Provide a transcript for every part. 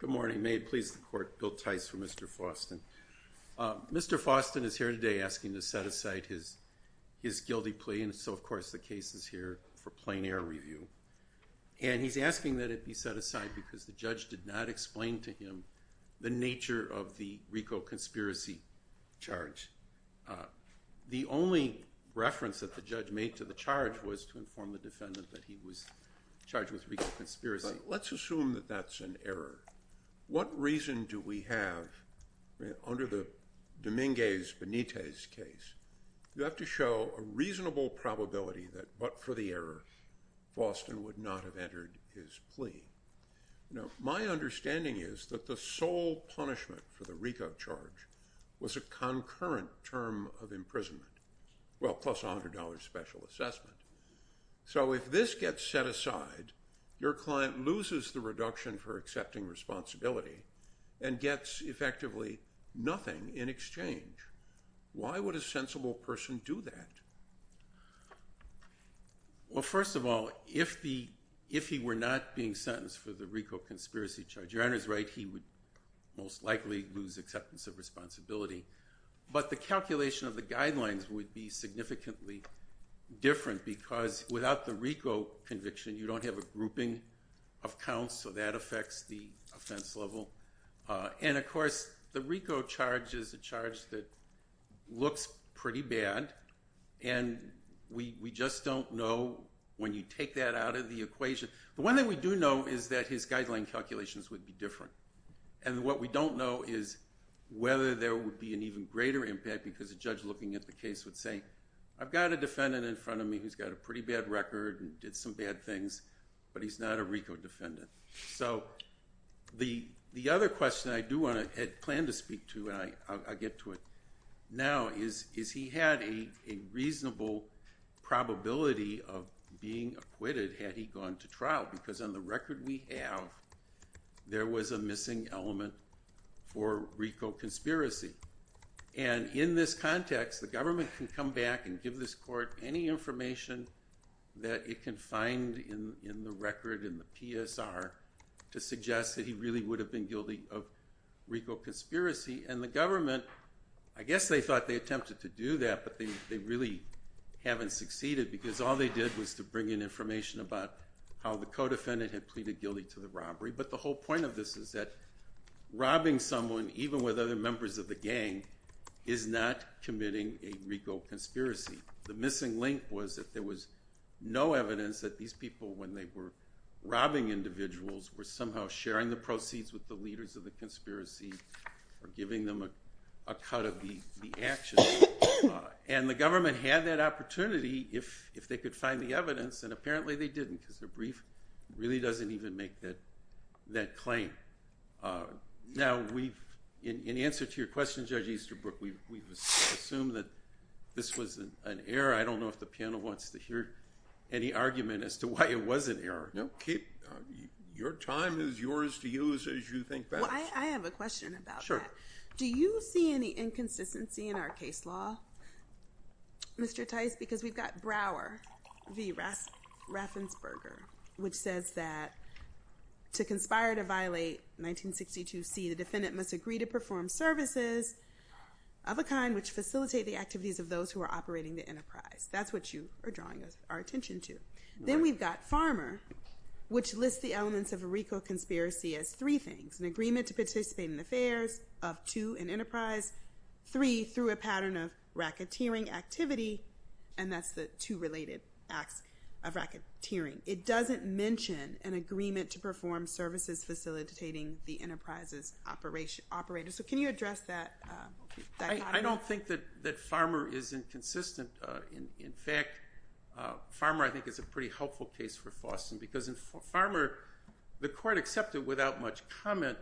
Good morning. May it please the Court, Bill Tice for Mr. Foston. Mr. Foston is here today asking to set aside his guilty plea and so of course the case is here for plain-air review and he's asking that it be set aside because the judge did not explain to him the nature of the RICO conspiracy charge. The only reference that the judge made to the charge was to inform the defendant that he was charged with RICO conspiracy. Let's assume that that's an error. What reason do we have under the Dominguez Benitez case? You have to show a reasonable probability that but for the error, Foston would not have entered his plea. Now my understanding is that the sole punishment for the RICO charge was a concurrent term of imprisonment, well plus $100 special assessment. So if this gets set aside, your client loses the reduction for accepting responsibility and gets effectively nothing in exchange. Why would a sensible person do that? Well first of all, if he were not being sentenced for the RICO conspiracy charge, your honor's right, he would most likely lose acceptance of responsibility but the calculation of the guidelines would be significantly different because without the RICO conviction you don't have a grouping of people. And of course the RICO charge is a charge that looks pretty bad and we just don't know when you take that out of the equation. The one thing we do know is that his guideline calculations would be different and what we don't know is whether there would be an even greater impact because a judge looking at the case would say, I've got a defendant in front of me who's got a pretty bad record and did some bad things but he's not a RICO defendant. So the other question I do want to plan to speak to, and I'll get to it now, is he had a reasonable probability of being acquitted had he gone to trial because on the record we have there was a missing element for RICO conspiracy. And in this context the government can come back and give this court any information that it can find in the record, in the PSR, to suggest that he really would have been guilty of RICO conspiracy. And the government, I guess they thought they attempted to do that but they really haven't succeeded because all they did was to bring in information about how the co-defendant had pleaded guilty to the robbery. But the whole point of this is that robbing someone, even with other members of the gang, is not committing a RICO conspiracy. The missing link was that there was no evidence that these people, when they were robbing individuals, were somehow sharing the proceeds with the leaders of the conspiracy or giving them a cut of the action. And the government had that opportunity if they could find the evidence and apparently they didn't because the brief really doesn't even make that claim. Now we've, in answer to your question Judge Easterbrook, we've assumed that this was an error. I don't know if the panel wants to hear any argument as to why it was an error. Your time is yours to use as you think best. I have a question about that. Do you see any inconsistency in our case law, Mr. Tice, because we've got Brower v. Raffensperger which says that to conspire to violate 1962 C, the defendant must agree to perform services of a kind which facilitate the enterprise. That's what you are drawing our attention to. Then we've got Farmer which lists the elements of a RICO conspiracy as three things. An agreement to participate in the affairs of two, an enterprise. Three, through a pattern of racketeering activity and that's the two related acts of racketeering. It doesn't mention an agreement to perform services facilitating the enterprise's operation. So can you address that? I don't think that that Farmer is inconsistent. In fact, Farmer I think is a pretty helpful case for Faustin because in Farmer the court accepted without much comment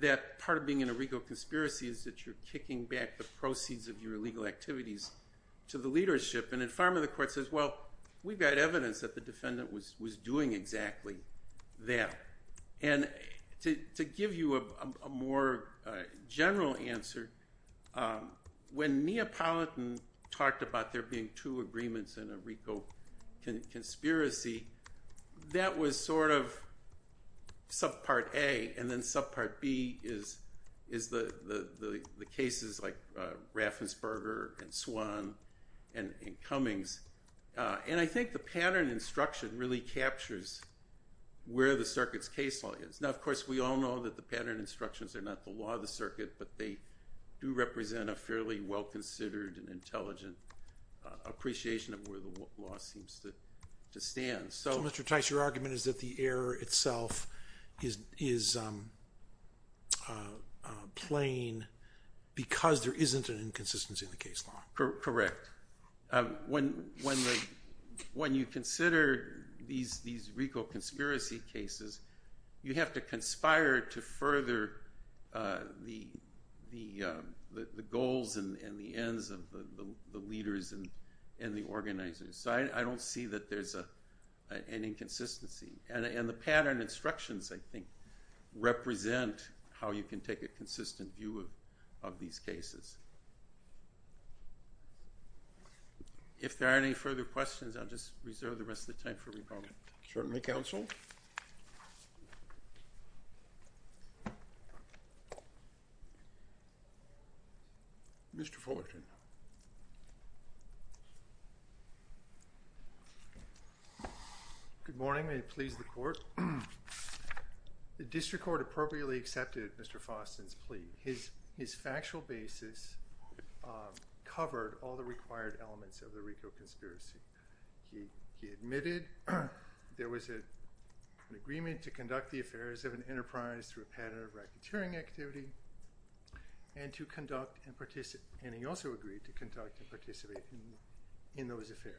that part of being in a RICO conspiracy is that you're kicking back the proceeds of your legal activities to the leadership. And in Farmer the court says well we've got more general answer. When Neapolitan talked about there being two agreements in a RICO conspiracy, that was sort of subpart A and then subpart B is is the the cases like Raffensperger and Swan and Cummings. And I think the pattern instruction really captures where the circuit's case law is. Now of course we all know that the pattern instructions are not the law of the circuit but they do represent a fairly well considered and intelligent appreciation of where the law seems to stand. So Mr. Tice your argument is that the error itself is is plain because there isn't an inconsistency in the case law. Correct. When you consider these these RICO conspiracy cases you have to conspire to further the the the goals and the ends of the leaders and in the organizers. So I don't see that there's a any inconsistency. And the pattern instructions I think represent how you can take a consistent view of these cases. If there are any further questions I'll just reserve the rest of the time Certainly counsel. Mr. Fullerton. Good morning. May it please the court. The district court appropriately accepted Mr. Faustin's plea. His factual basis covered all the required elements of the there was a an agreement to conduct the affairs of an enterprise through a pattern of racketeering activity and to conduct and participate and he also agreed to conduct and participate in in those affairs.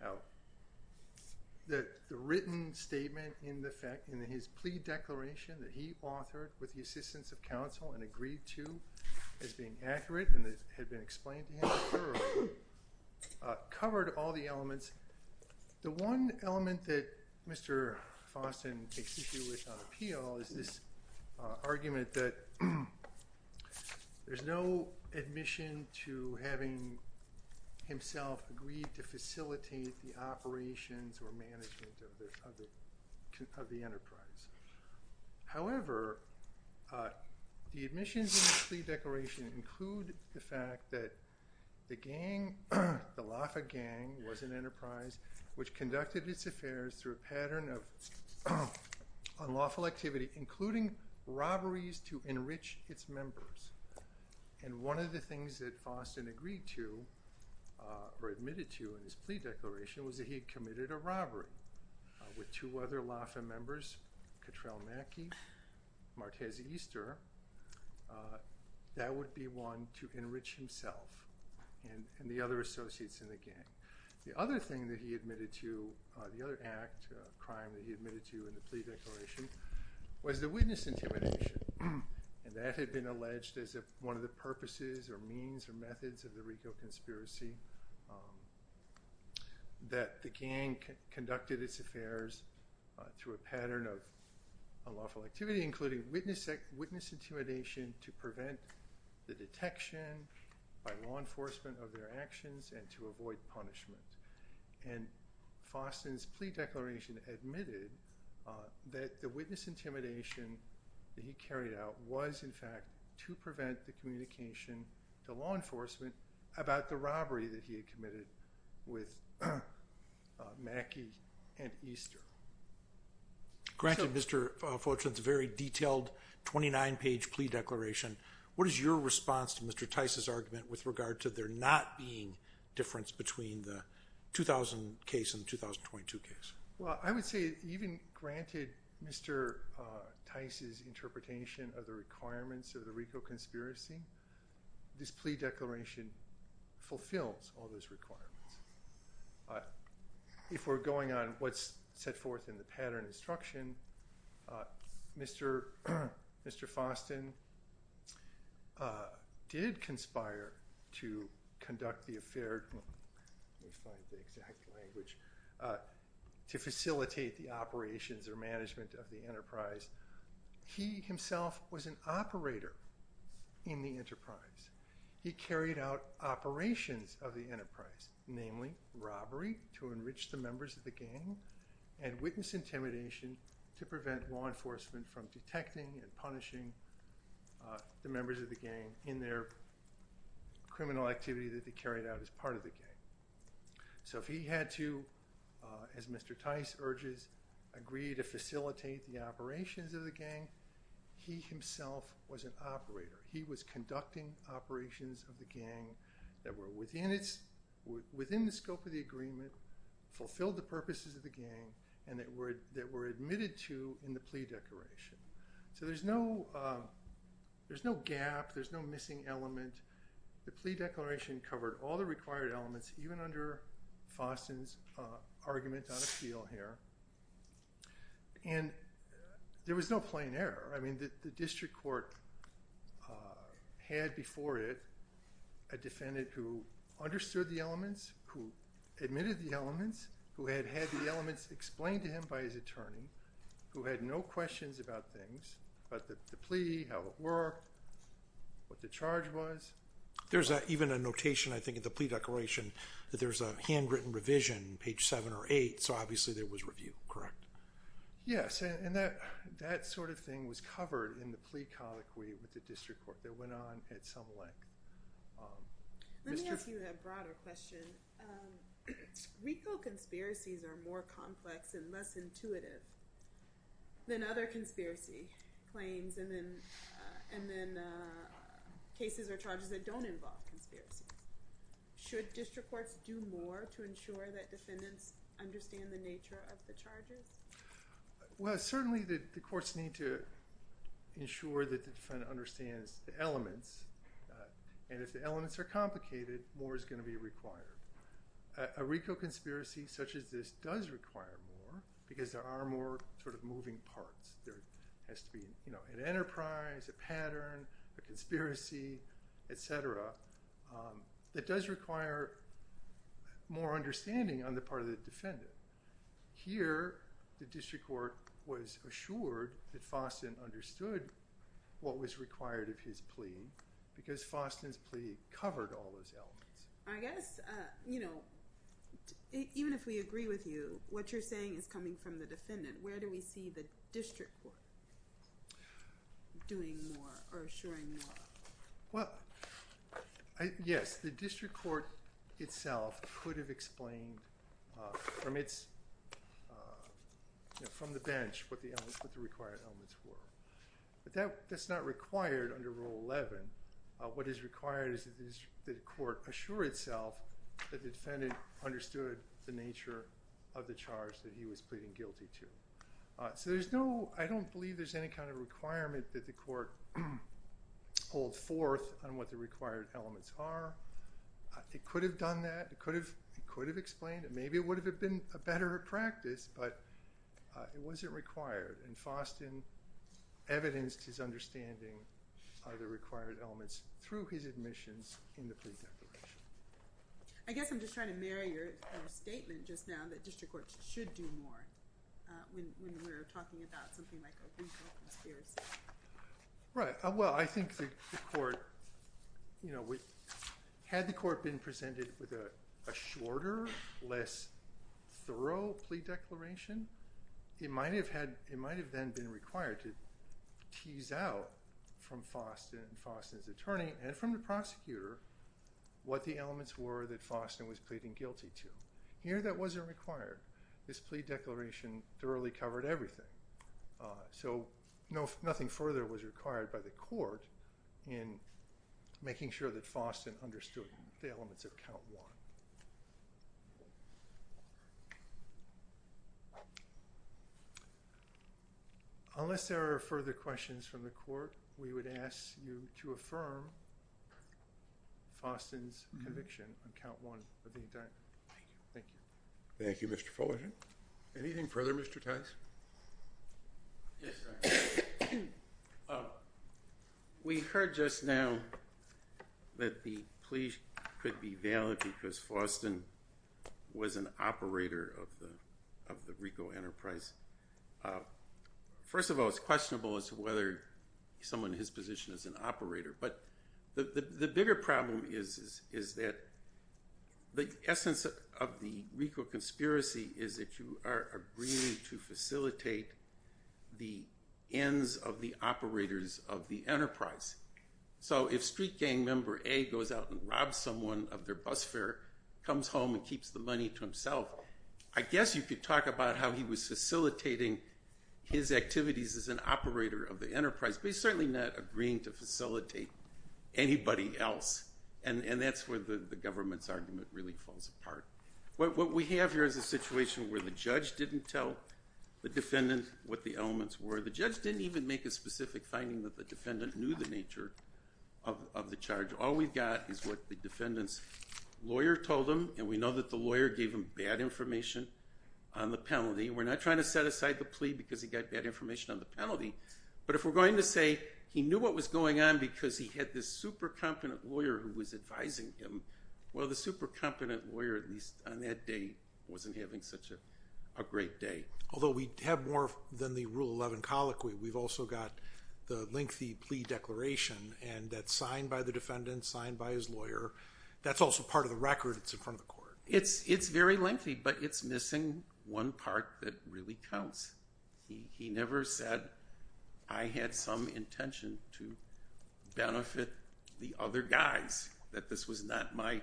Now that the written statement in the fact in his plea declaration that he authored with the assistance of counsel and agreed to as being accurate and this had been explained covered all the elements. The one element that Mr. Faustin takes issue with on appeal is this argument that there's no admission to having himself agreed to facilitate the operations or management of the enterprise. However the admissions in the plea declaration include the fact that the gang, the LAFA gang was an enterprise which conducted its affairs through a pattern of unlawful activity including robberies to enrich its members. And one of the things that Faustin agreed to or admitted to in his plea declaration was that he committed a that would be one to enrich himself and the other associates in the gang. The other thing that he admitted to the other act crime that he admitted to in the plea declaration was the witness intimidation and that had been alleged as a one of the purposes or means or methods of the Rico conspiracy that the gang conducted its affairs through a pattern of unlawful activity including witness intimidation to prevent the detection by law enforcement of their actions and to avoid punishment. And Faustin's plea declaration admitted that the witness intimidation that he carried out was in fact to prevent the communication to law enforcement about the robbery that he had committed with 29 page plea declaration. What is your response to Mr. Tice's argument with regard to there not being difference between the 2000 case in 2022 case? Well I would say even granted Mr. Tice's interpretation of the requirements of the Rico conspiracy this plea declaration fulfills all those requirements. If we're going on what's set forth in the pattern instruction Mr. Faustin did conspire to conduct the affair to facilitate the operations or management of the enterprise. He himself was an operator in the enterprise. He carried out operations of the enterprise namely robbery to prevent law enforcement from detecting and punishing the members of the gang in their criminal activity that they carried out as part of the gang. So if he had to as Mr. Tice urges agree to facilitate the operations of the gang he himself was an operator. He was conducting operations of the gang that were within the scope of the agreement, fulfilled the purposes of gang and that word that were admitted to in the plea declaration. So there's no there's no gap there's no missing element. The plea declaration covered all the required elements even under Faustin's argument on appeal here and there was no plain error. I mean that the district court had before it a defendant who understood the elements who admitted the elements who had had the elements explained to him by his attorney who had no questions about things but that the plea how it were what the charge was. There's that even a notation I think at the plea declaration that there's a handwritten revision page seven or eight so obviously there was review correct? Yes and that that sort of thing was covered in the plea colloquy with the district court that went on at some length. Let me ask you a broader question. Recall conspiracies are more complex and less intuitive than other conspiracy claims and then and then cases or charges that don't involve conspiracies. Should district courts do more to ensure that defendants understand the nature of the charges? Well certainly that the courts need to ensure that the defendant understands the elements and if the elements are complicated more is going to be required. A RICO conspiracy such as this does require more because there are more sort of moving parts. There has to be you know an enterprise, a pattern, a conspiracy, etc. that does require more understanding on the part of the defendant. Here the district court was assured that Faustin understood what was required of his plea because Faustin's plea covered all those elements. I guess you know even if we agree with you what you're saying is coming from the defendant where do we see the district court doing more or assuring more? Well yes the district court itself could have explained from its from the bench what the required elements were. But that's not required under Rule 11. What is required is that the court assure itself that the defendant understood the nature of the charge that he was pleading guilty to. So there's no, I don't believe there's any kind of requirement that the court hold forth on what the required elements are. It could have done that. It could have explained it. Maybe it would have been a better practice but it wasn't required and Faustin evidenced his understanding of the required elements through his admissions in the plea declaration. I guess I'm just trying to marry your statement just now that district courts should do more when we're talking about something like a legal conspiracy. Right, well I think the court, you know, had the court been presented with a thorough plea declaration it might have had, it might have then been required to tease out from Faustin and Faustin's attorney and from the prosecutor what the elements were that Faustin was pleading guilty to. Here that wasn't required. This plea declaration thoroughly covered everything. So no, nothing further was required by the court in making sure that Faustin understood the elements of count one. Unless there are further questions from the court we would ask you to affirm Faustin's conviction on count one of the indictment. Thank you. Thank you Mr. Fullerton. Anything further Mr. Tice? We heard just now that the plea could be valid because Faustin was an operator of the RICO Enterprise. First of all it's questionable as to whether someone in his position is an operator but the essence of the RICO conspiracy is that you are agreeing to facilitate the ends of the operators of the Enterprise. So if street gang member A goes out and robs someone of their bus fare, comes home and keeps the money to himself, I guess you could talk about how he was facilitating his activities as an operator of the Enterprise but he's certainly not agreeing to facilitate anybody else and that's where the government's argument really falls apart. What we have here is a situation where the judge didn't tell the defendant what the elements were. The judge didn't even make a specific finding that the defendant knew the nature of the charge. All we've got is what the defendant's lawyer told him and we know that the lawyer gave him bad information on the penalty. We're not trying to set aside the plea because he got bad information on the penalty but if we're going to say he knew what was going on because he had this super competent lawyer who was advising him, well the super competent lawyer at least on that day wasn't having such a great day. Although we have more than the Rule 11 colloquy, we've also got the lengthy plea declaration and that's signed by the defendant, signed by his lawyer, that's also part of the record, it's in front of the court. It's very lengthy but it's missing one part that really counts. He never said I had some intention to benefit the other guys, that this was not my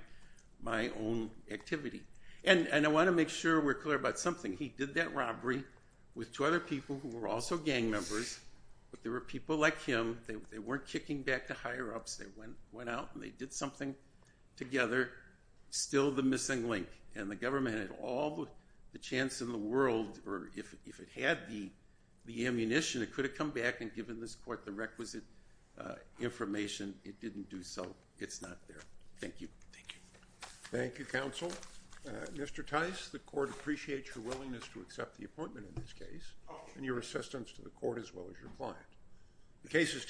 own activity. And I want to make sure we're clear about something. He did that robbery with two other people who were also gang members but there were people like him, they weren't kicking back to higher-ups, they went out and they did something together. Still the missing link and the if it had the ammunition, it could have come back and given this court the requisite information. It didn't do so. It's not there. Thank you. Thank you counsel. Mr. Tice, the court appreciates your willingness to accept the appointment in this case and your assistance to the court as well as your client.